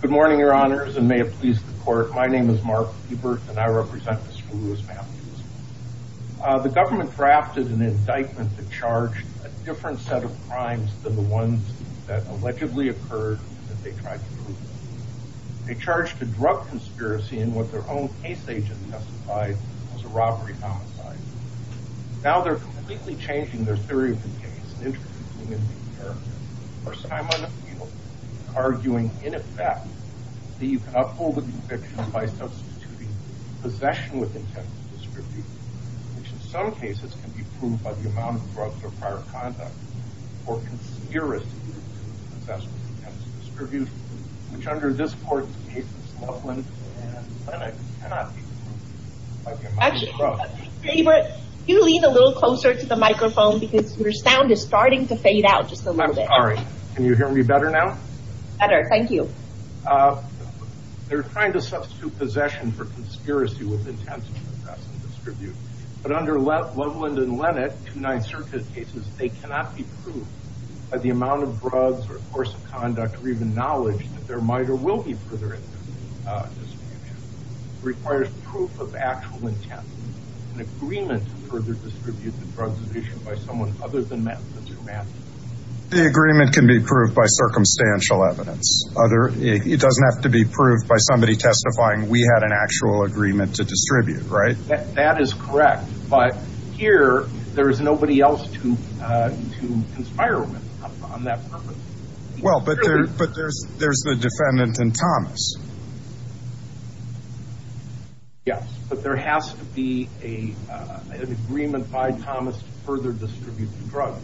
Good morning, your honors, and may it please the court. My name is Mark Hebert, and I represent Mr. Louis Matthews. The government drafted an indictment to charge a different set of crimes than the ones that allegedly occurred and that they tried to prove. They charged a drug conspiracy in what their own case agent testified was a robbery-homicide. Now they're completely changing their theory of the case and introducing a new character. For the first time on the field, they're arguing, in effect, that you can uphold the conviction by substituting possession with intent to distribute, which in some cases can be proved by the amount of drugs or prior conduct, or conspiracy to possess with intent to distribute, which under this court's cases, Loveland and Lennox, cannot be proved by the amount of drugs. Actually, Hebert, can you lean a little closer to the microphone, because your sound is starting to fade out just a little bit. I'm sorry. Can you hear me better now? Better, thank you. They're trying to substitute possession for conspiracy with intent to possess and distribute, but under Loveland and Lennox, United Circuit cases, they cannot be proved by the amount of drugs, or course of conduct, or even knowledge that there might or will be any further distribution. It requires proof of actual intent, an agreement to further distribute the drugs issued by someone other than the two men. The agreement can be proved by circumstantial evidence. It doesn't have to be proved by somebody testifying, we had an actual agreement to distribute, right? That is correct, but here, there is nobody else to conspire with on that purpose. Well, but there's the defendant in Thomas. Yes, but there has to be an agreement by Thomas to further distribute the drugs.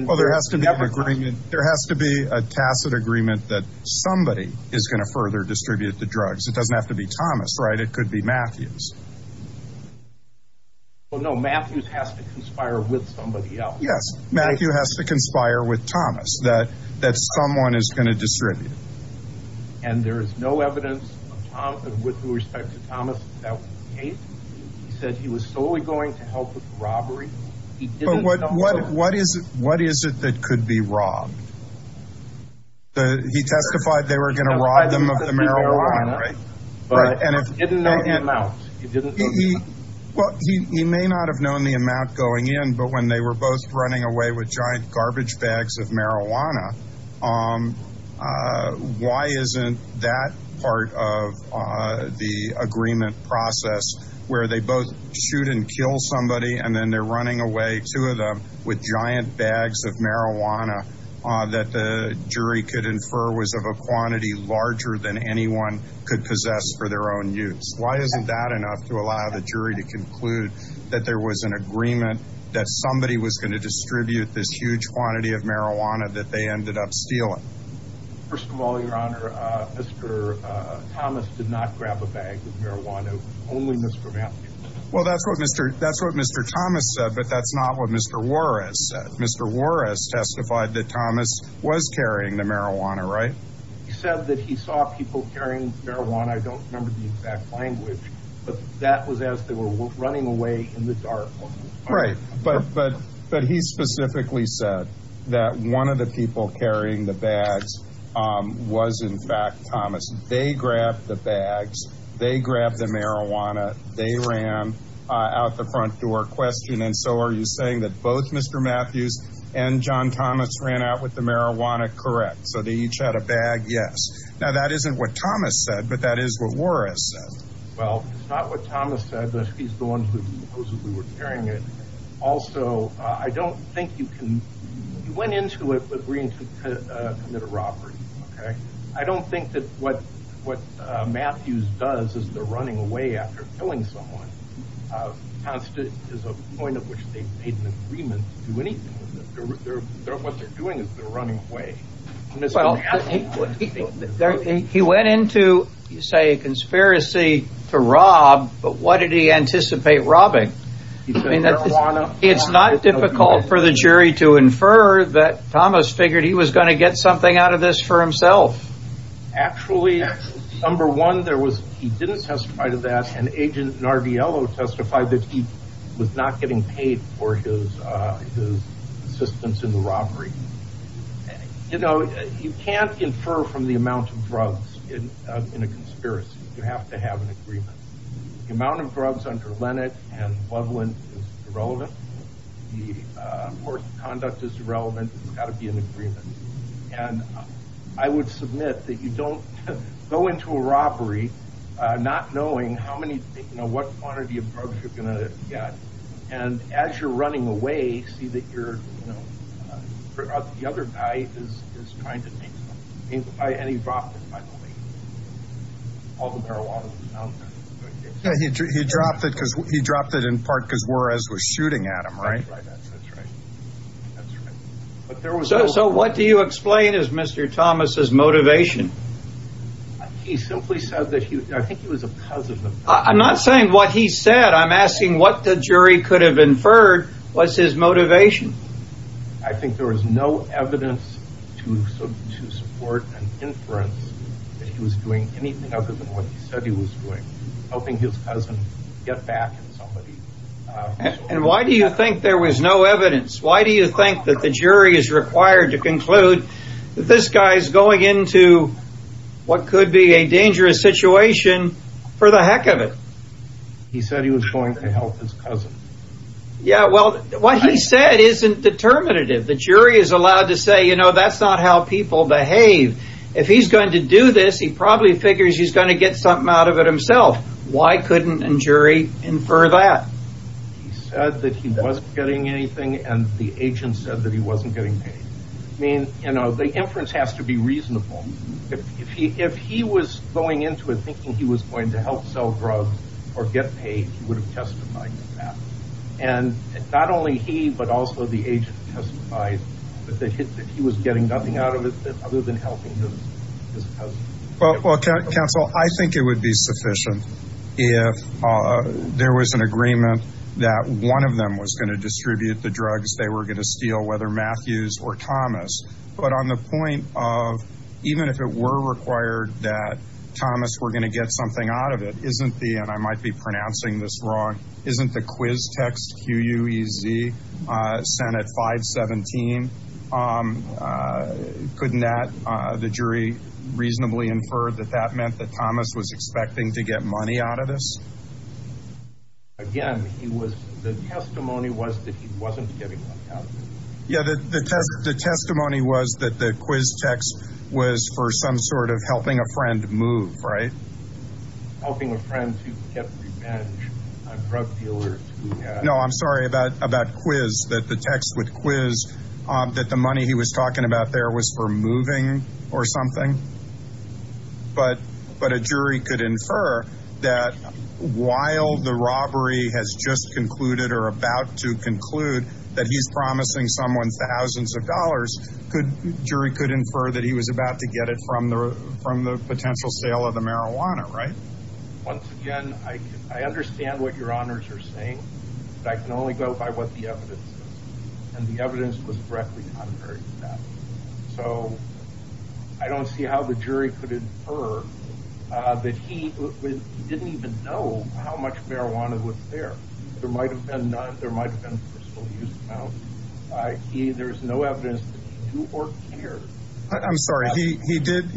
Well, there has to be an agreement, there has to be a tacit agreement that somebody is going to further distribute the drugs. It doesn't have to be Thomas, right? It could be Matthews. Well, no, Matthews has to conspire with somebody else. Yes, Matthew has to conspire with Thomas that someone is going to distribute. And there is no evidence with respect to Thomas that was the case. He said he was solely going to help with the robbery. But what is it that could be robbed? He testified they were going to rob them of the marijuana, right? But if he didn't know the amount, he didn't know the amount. Well, he may not have known the amount going in, but when they were both running away with giant garbage bags of marijuana, why isn't that part of the agreement process where they both shoot and kill somebody and then they're running away, two of them, with giant bags of marijuana that the jury could Why isn't that enough to allow the jury to conclude that there was an agreement that somebody was going to distribute this huge quantity of marijuana that they ended up stealing? First of all, Your Honor, Mr. Thomas did not grab a bag of marijuana. Only Mr. Matthews. Well, that's what Mr. Thomas said, but that's not what Mr. Warris said. Mr. Warris testified that Thomas was carrying the marijuana, right? He said that he saw people carrying marijuana. I don't remember the exact language, but that was as they were running away in the dark. Right. But he specifically said that one of the people carrying the bags was, in fact, Thomas. They grabbed the bags. They grabbed the marijuana. They ran out the front door. Question. And so are you saying that both Mr. Matthews and John Thomas ran out with the That is what Warris said. Well, it's not what Thomas said, but he's the one who supposedly was carrying it. Also, I don't think you can. You went into it agreeing to commit a robbery. Okay. I don't think that what Matthews does is they're running away after killing someone. It's a point at which they've made an agreement to do anything. What they're doing is they're to rob, but what did he anticipate robbing? It's not difficult for the jury to infer that Thomas figured he was going to get something out of this for himself. Actually, number one, there was he didn't testify to that. And Agent Narviello testified that he was not getting paid for his assistance in the robbery. You know, you can't infer from the amount of drugs in a conspiracy. You have to have an agreement. The amount of drugs under Lennox and Loveland is irrelevant. The force of conduct is irrelevant. There's got to be an agreement. And I would submit that you don't go into a robbery not knowing how many, you know, what quantity of drugs you're going to get. And as you're running away, see that you're, you know, the other guy is trying to take something. And he dropped it, by the way. All the marijuana was out. He dropped it because he dropped it in part because Juarez was shooting at him, right? That's right. That's right. So what do you explain is Mr. Thomas' motivation? He simply said that he, I think it was because of the. I'm not saying what he said. I'm asking what the jury could have inferred was his motivation. I think there was no evidence to support an inference that he was doing anything other than what he said he was doing. Helping his cousin get back at somebody. And why do you think there was no evidence? Why do you think that the jury is required to conclude that this guy is going into what could be a dangerous situation for the Yeah, well, what he said isn't determinative. The jury is allowed to say, you know, that's not how people behave. If he's going to do this, he probably figures he's going to get something out of it himself. Why couldn't a jury infer that? He said that he wasn't getting anything and the agent said that he wasn't getting paid. I mean, you know, the inference has to be reasonable. If he was going into it thinking he was going to help sell drugs or get paid, he would have testified to that. And not only he, but also the agent testified that he was getting nothing out of it other than helping his cousin. Well, counsel, I think it would be sufficient if there was an agreement that one of them was going to distribute the drugs they were going to steal, whether Matthews or Thomas. But on the point of even if it were required that Thomas, we're going to get something out of it, isn't the and I might be pronouncing this wrong, isn't the quiz text Q. U. E. Z. Senate 517. Couldn't that the jury reasonably infer that that meant that Thomas was expecting to get money out of this? Again, he was the testimony was that he wasn't getting money out of it. Yeah, the test. The testimony was that the quiz text was for some sort of helping a friend move, right? Helping a friend to get revenge on drug dealers. No, I'm sorry about about quiz that the text with quiz that the money he was talking about there was for moving or something. But but a jury could infer that while the robbery has just concluded or about to conclude that he's promising someone thousands of dollars, could jury could infer that he was about to get it from the from the potential sale of the marijuana, right? Once again, I understand what your honors are saying. I can only go by what the evidence says. And the evidence was directly under that. So I don't see how the jury could infer that he didn't even know how much marijuana was there. There might have been none. There might have been personal use. Now, I see there is no evidence to or here. I'm sorry. He did.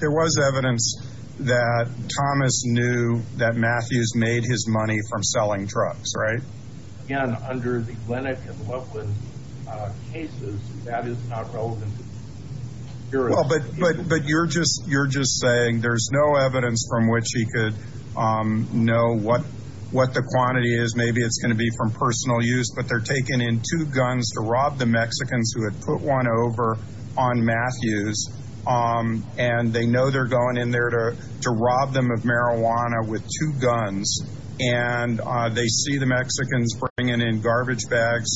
There was evidence that Thomas knew that Matthews made his money from selling drugs, right? Again, under the Glenick and Loveland cases, that is not relevant. Well, but but but you're just you're just saying there's no evidence from which he could know what what the quantity is. Maybe it's going to be from personal use, but they're taking in two guns to rob the Mexicans who had put one over on Matthews. And they know they're going in there to rob them of marijuana with two guns. And they see the Mexicans bringing in garbage bags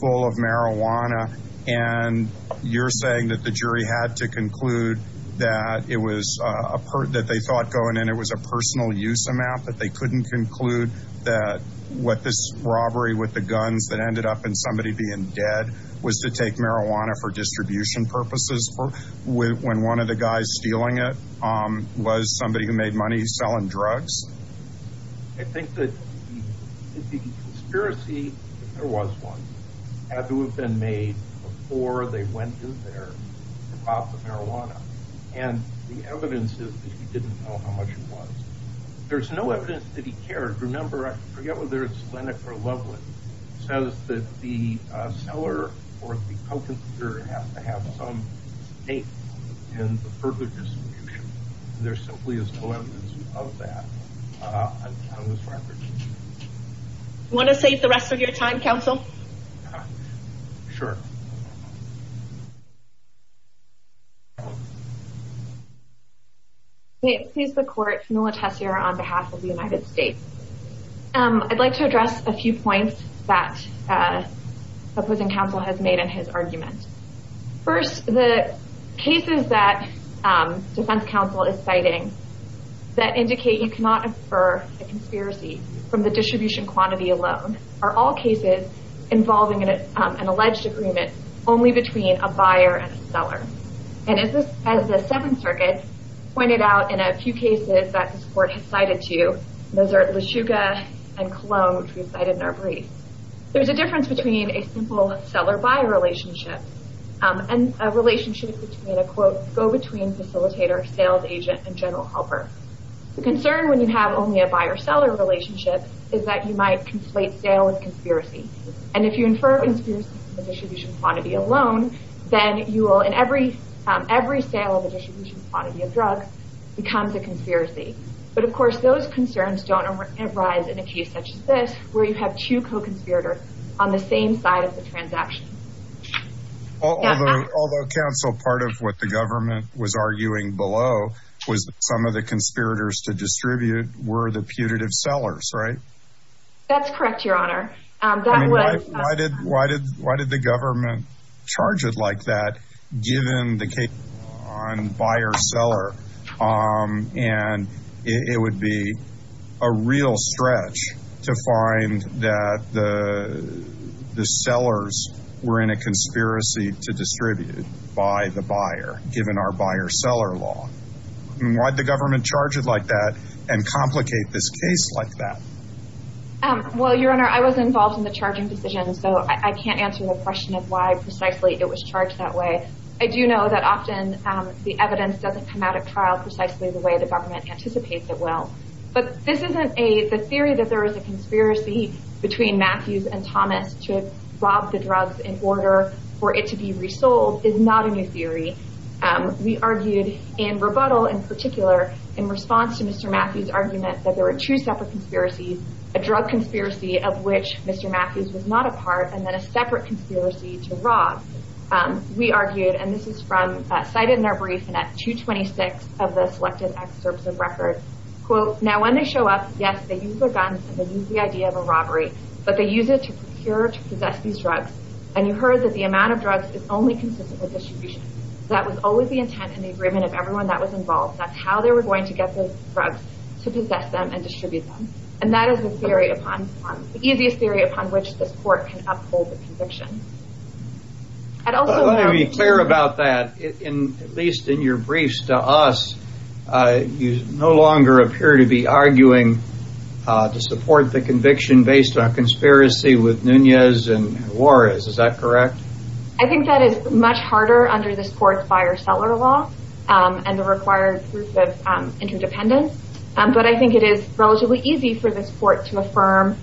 full of marijuana. And you're saying that the jury had to conclude that it was a part that they thought going in, it was a personal use amount that they couldn't conclude that what this robbery with the guns that ended up in somebody being dead was to make marijuana for distribution purposes for when one of the guys stealing it was somebody who made money selling drugs? I think that the conspiracy, if there was one, had to have been made before they went in there to rob the marijuana. And the evidence is that he didn't know how much it was. There's no evidence that he cared. Remember, I forget whether it's Glenick or Loveland. It says that the seller or the co-conspirator has to have some stake in the further distribution. There simply is no evidence of that on this record. Do you want to save the rest of your time, counsel? Sure. May it please the court, Camilla Tessier on behalf of the United States. I'd like to address a few points that opposing counsel has made in his testimony. One of the things that the court has pointed out is that all cases involving an alleged agreement only between a buyer and a seller. And as the Seventh Circuit pointed out in a few cases that this court has cited to you, those are LaChuca and Cologne, which we cited in our brief. There's a difference between a simple seller-buyer relationship and a relationship between a, quote, go-between facilitator, sales agent, and general helper. The concern when you have only a buyer-seller relationship is that you might conflate sale with conspiracy. And if you infer conspiracy from the distribution quantity alone, then you will in every sale of a distribution quantity of drugs becomes a conspiracy. But of course, those concerns don't arise in a case such as this where you have two co-conspirators on the same side of the transaction. Although counsel, part of what the government was arguing below was that some of the conspirators to distribute were the putative sellers, right? That's correct, Your Honor. I mean, why did the government charge it like that given the case on buyer-seller? And it would be a real stretch to find that the sellers were in a conspiracy to distribute by the buyer given our buyer-seller law. I mean, why did the government charge it like that and complicate this case like that? Well, Your Honor, I was involved in the charging decision, so I can't answer the question of why precisely it was charged that way. I do know that often the evidence doesn't come out at trial precisely the way the government anticipates it will. But this isn't a, the theory that there is a conspiracy between Matthews and Thomas to rob the drugs in order for it to be resold is not a new theory. We argued in rebuttal in particular in response to Mr. Matthews' argument that there were two separate conspiracies, a drug conspiracy of which Mr. Matthews was not a part and then a separate conspiracy to rob. We argued, and this is from cited in our brief and at 226 of the selected excerpts of record, quote, now when they show up, yes, they use their guns and they use the idea of a robbery, but they use it to procure to possess these drugs. And you heard that the amount of drugs is only consistent with distribution. That was always the intent and the agreement of everyone that was involved. That's how they were going to get the drugs to possess them and distribute them. And that is the theory upon, the easiest theory upon which this court can uphold the conviction. I'd also want to be clear about that. At least in your briefs to us, you no longer appear to be arguing to support the conviction based on conspiracy with Nunez and Juarez. Is that correct? I think that is much harder under this court's buyer-seller law and the required proof of interdependence. But I think it is relatively easy for this court to affirm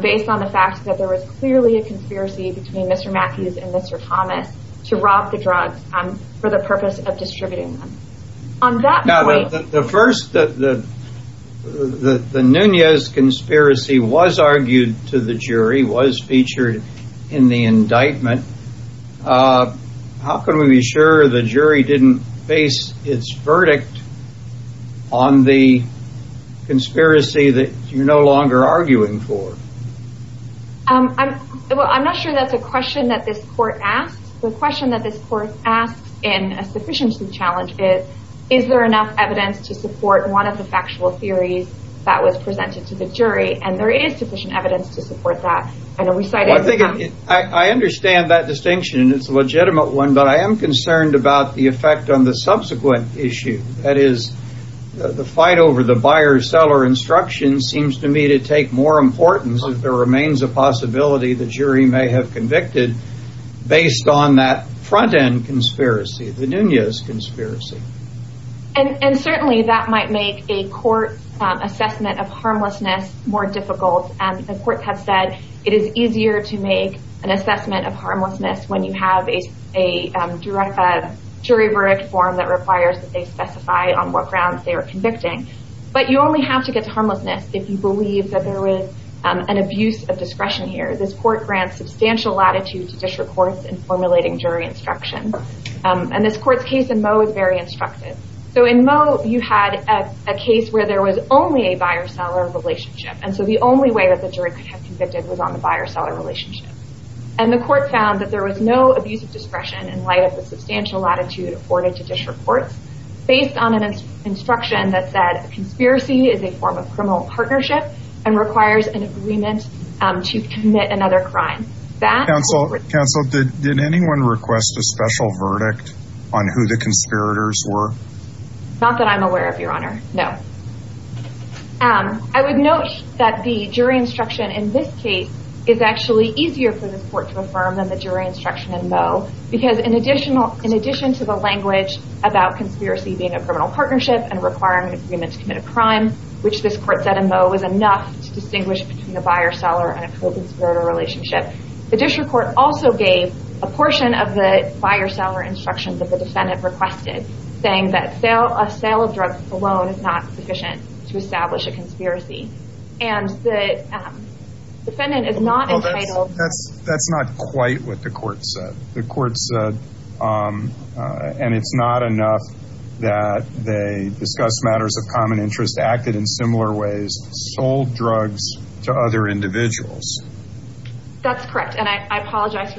based on the fact that there was clearly a conspiracy between Mr. Matthews and Mr. Thomas to rob the drugs for the evidence that was featured in the indictment. How can we be sure the jury didn't face its verdict on the conspiracy that you're no longer arguing for? I'm not sure that's a question that this court asks. The question that this court asks in a sufficiency challenge is, is there enough evidence to support one of the I understand that distinction. It's a legitimate one. But I am concerned about the effect on the subsequent issue. That is, the fight over the buyer-seller instruction seems to me to take more importance if there remains a possibility the jury may have convicted based on that front-end conspiracy, the Nunez conspiracy. And certainly that might make a court assessment of harmlessness more difficult. And the courts have said it is easier to make an assessment of harmlessness when you have a jury verdict form that requires that they specify on what grounds they are convicting. But you only have to get to harmlessness if you believe that there was an abuse of discretion here. This court grants substantial relationship. And so the only way that the jury could have convicted was on the buyer-seller relationship. And the court found that there was no abuse of discretion in light of the substantial latitude afforded to dish reports based on an instruction that said conspiracy is a form of criminal partnership and requires an agreement to commit another crime. Counsel, did anyone request a special verdict on who the conspirators were? Not that I'm aware of, Your Honor. No. I would note that the jury instruction in this case is actually easier for this court to affirm than the jury instruction in Moe. Because in addition to the language about conspiracy being a criminal partnership and a criminal partnership, the district court also gave a portion of the buyer-seller instruction that the defendant requested, saying that a sale of drugs alone is not sufficient to establish a conspiracy. And the defendant is not entitled That's not quite what the court said. The court said, and it's not enough that they discuss matters of common interest, acted in similar ways, sold drugs to other individuals. That's correct. And I apologize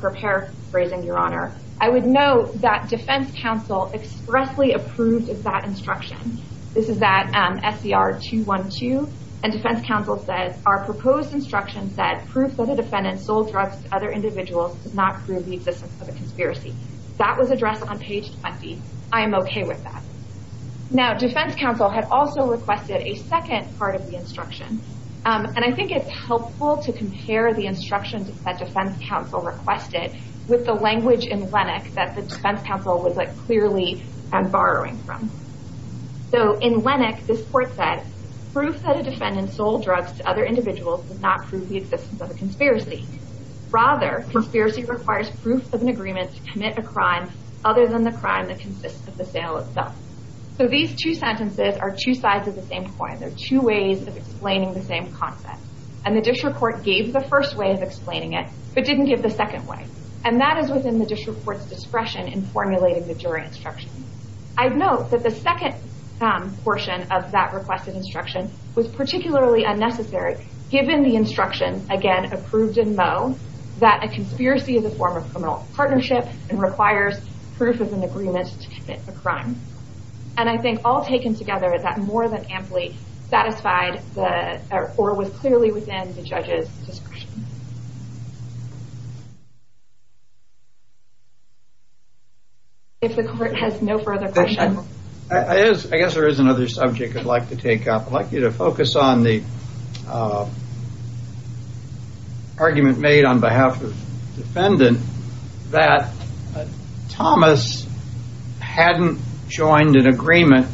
for paraphrasing, Your Honor. I would note that defense counsel expressly approved of that instruction. This is that SCR-212. And defense counsel says, Our proposed instruction said, Proof that a defendant sold drugs to other individuals does not prove the existence of a conspiracy. That was addressed on page 20. I am okay with that. Now, defense counsel had also requested a second part of the instruction. And I think it's helpful to compare the instructions that defense counsel requested with the language in Lennox that the defense counsel was clearly borrowing from. So, in Lennox, this court said, Proof that a defendant sold drugs to other individuals does not prove the existence of a conspiracy. Rather, conspiracy requires proof of an agreement to commit a crime other than the crime that consists of the sale itself. So, these two sentences are two sides of the same coin. They're two ways of explaining the same concept. And the district court gave the first way of explaining it, but didn't give the second way. And that is within the district court's discretion in formulating the jury instruction. I'd note that the second portion of that requested instruction was particularly unnecessary, given the instruction, again, approved in Moe, that a conspiracy is a form of criminal partnership and requires proof of an agreement to commit a crime. And I think all taken together, that more than amply satisfied or was clearly within the judge's discretion. I guess there is another subject I'd like to take up. I'd like you to focus on the argument made on behalf of the defendant that Thomas hadn't joined an agreement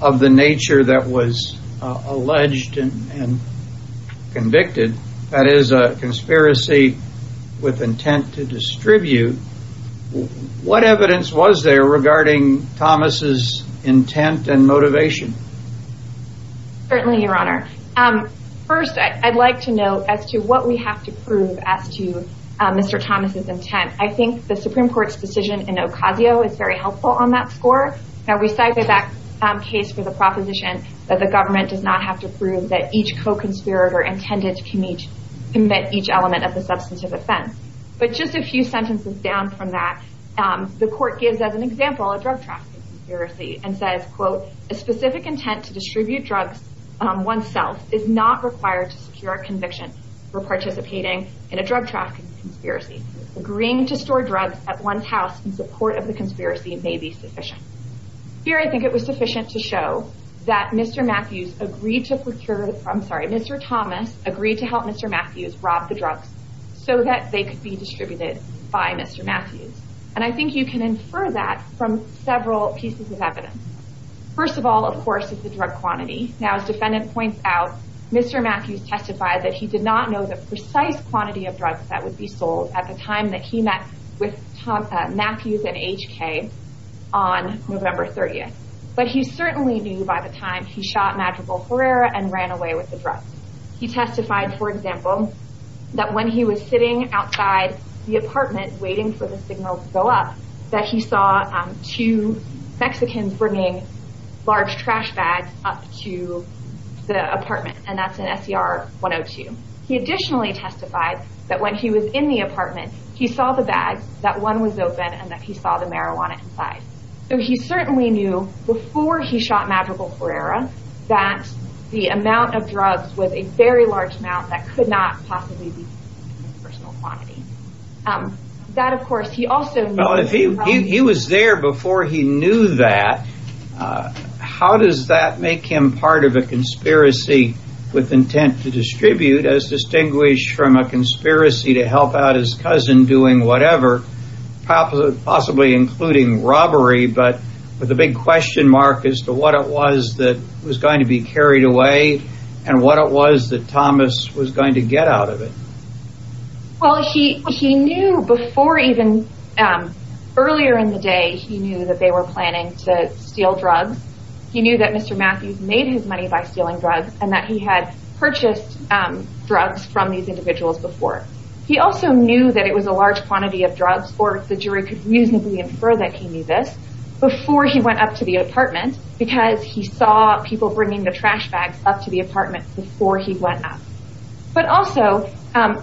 of the nature that was alleged and convicted. That is a conspiracy with intent to distribute. What evidence was there regarding Thomas' intent and motivation? Certainly, Your Honor. First, I'd like to note as to what we have to prove as to Mr. Thomas' intent. I think the Supreme Court's decision in Ocasio is very helpful on that score. Now, we cited that case for the proposition that the government does not have to prove that each co-conspirator intended to commit each element of the substantive offense. But just a few sentences down from that, the court gives as an example a drug trafficking conspiracy and says, quote, Here, I think it was sufficient to show that Mr. Thomas agreed to help Mr. Matthews rob the drugs so that they could be distributed by Mr. Matthews. And I think you can infer that from several pieces of evidence. First of all, of course, is the drug quantity. Now, as the defendant points out, Mr. Matthews testified that he did not know the precise quantity of drugs that would be sold at the time that he met with Matthews and HK on November 30th. He testified, for example, that when he was sitting outside the apartment waiting for the signal to go up, that he saw two Mexicans bringing large trash bags up to the apartment. And that's an SER-102. He additionally testified that when he was in the apartment, he saw the bags, that one was open, and that he saw the marijuana inside. So he certainly knew before he shot Madrigal-Ferreira that the amount of drugs was a very large amount that could not possibly be distributed in personal quantity. He was there before he knew that. How does that make him part of a conspiracy with intent to distribute, as distinguished from a conspiracy to help out his cousin doing whatever, possibly including robbery, but with a big question mark as to what it was that was going to be carried away and what it was that Thomas was going to get out of it? Well, he knew before even, earlier in the day, he knew that they were planning to steal drugs. He knew that Mr. Matthews made his money by stealing drugs and that he had purchased drugs from these individuals before. He also knew that it was a large quantity of drugs, or the jury could reasonably infer that he knew this, before he went up to the apartment, because he saw people bringing the trash bags up to the apartment before he went up. But also,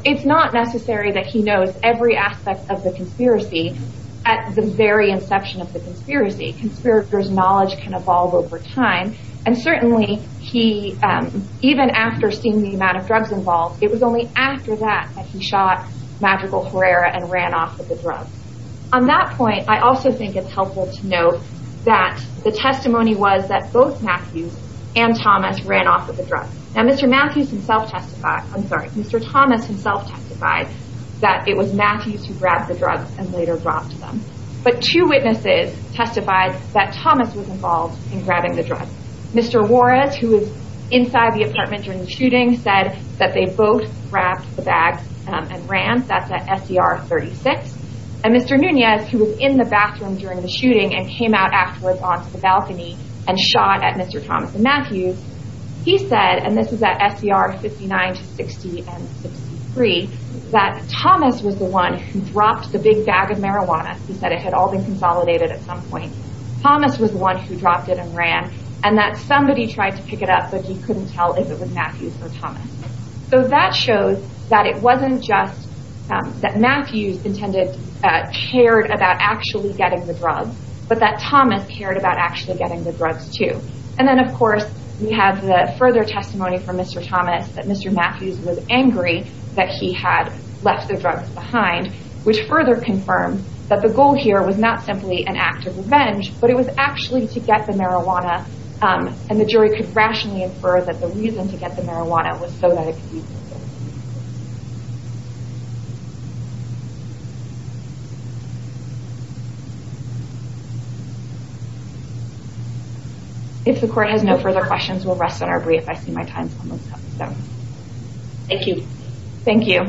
it's not necessary that he knows every aspect of the conspiracy at the very inception of the conspiracy. Conspirators' knowledge can evolve over time, and certainly, even after seeing the amount of drugs involved, it was only after that that he shot Madrigal-Ferreira and ran off with the drugs. On that point, I also think it's helpful to note that the testimony was that both Matthews and Thomas ran off with the drugs. Now, Mr. Thomas himself testified that it was Matthews who grabbed the drugs and later robbed them. But two witnesses testified that Thomas was involved in grabbing the drugs. Mr. Juarez, who was inside the apartment during the shooting, said that they both grabbed the bags and ran. That's at SDR 36. And Mr. Nunez, who was in the bathroom during the shooting and came out afterwards onto the balcony and shot at Mr. Thomas and Matthews, he said, and this was at SDR 59 to 60 and 63, that Thomas was the one who dropped the big bag of marijuana. He said it had all been consolidated at some point. Thomas was the one who dropped it and ran. And that somebody tried to pick it up, but he couldn't tell if it was Matthews or Thomas. So that shows that it wasn't just that Matthews intended, cared about actually getting the drugs, but that Thomas cared about actually getting the drugs too. And then, of course, we have the further testimony from Mr. Thomas that Mr. Matthews was angry that he had left the drugs behind, which further confirmed that the goal here was not simply an act of revenge, but it was actually to get the marijuana. And the jury could rationally infer that the reason to get the marijuana was so that it could be used against him. If the court has no further questions, we'll rest on our brief. I see my time is almost up. Thank you. Thank you.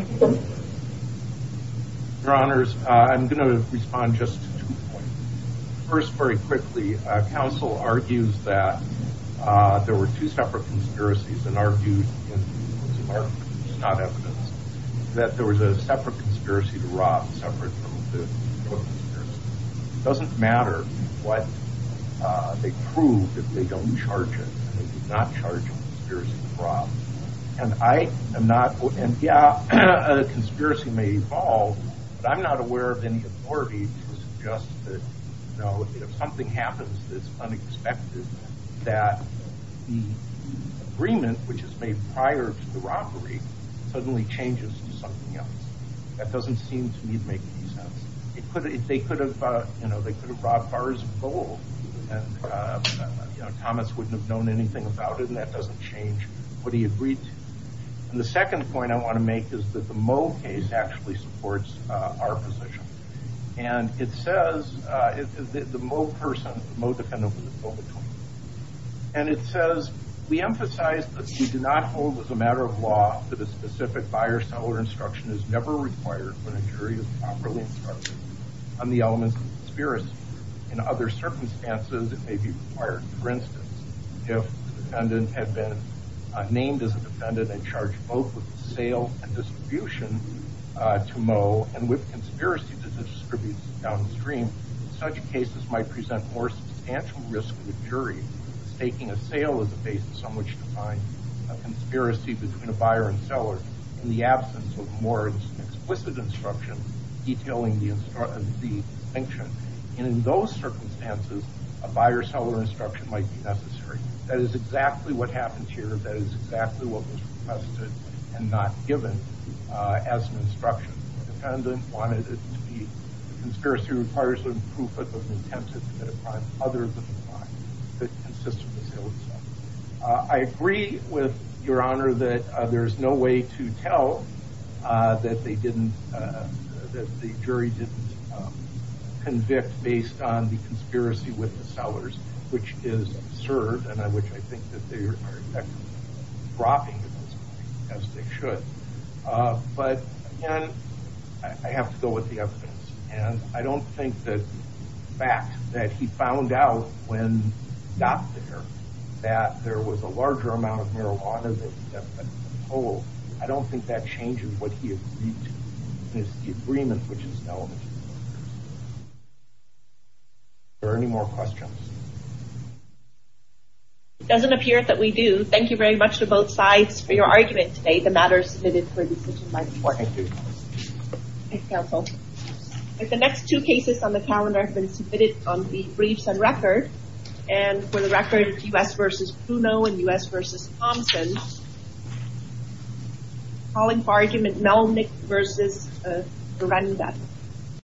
I'm not aware of any authority to suggest that if something happens that's unexpected, that the agreement, which is made prior to the robbery, suddenly changes to something else. That doesn't seem to me to make any sense. They could have brought bars of gold, and Thomas wouldn't have known anything about it, and that doesn't change what he agreed to. And the second point I want to make is that the Moe case actually supports our position. And it says that the Moe person, the Moe defendant, was at fault. And it says, we emphasize that we do not hold as a matter of law that a specific buyer-seller instruction is never required when a jury is properly instructed on the elements of the conspiracy. In other circumstances, it may be required. For instance, if the defendant had been named as a defendant and charged both with the sale and distribution to Moe and with conspiracy to distribute downstream, such cases might present more substantial risk to the jury, staking a sale as a basis on which to find a conspiracy between a buyer and seller in the absence of more explicit instruction detailing the distinction. And in those circumstances, a buyer-seller instruction might be necessary. That is exactly what happened here. That is exactly what was requested and not given as an instruction. The defendant wanted it to be the conspiracy requires a proof of intent to commit a crime other than the crime that consists of the sale itself. I agree with Your Honor that there is no way to tell that they didn't, that the jury didn't convict based on the conspiracy with the sellers, which is absurd and which I think that they are dropping as they should. But again, I have to go with the evidence. And I don't think the fact that he found out when he got there that there was a larger amount of marijuana that he had been told, I don't think that changes what he agreed to. It's the agreement which is known. Are there any more questions? It doesn't appear that we do. Thank you very much to both sides for your argument today. The matter is submitted for decision by the court. Thank you. Thank you, counsel. The next two cases on the calendar have been submitted on the briefs and record. And for the record, U.S. v. Bruno and U.S. v. Thompson. I'm calling for argument Melnyk v. Berenda.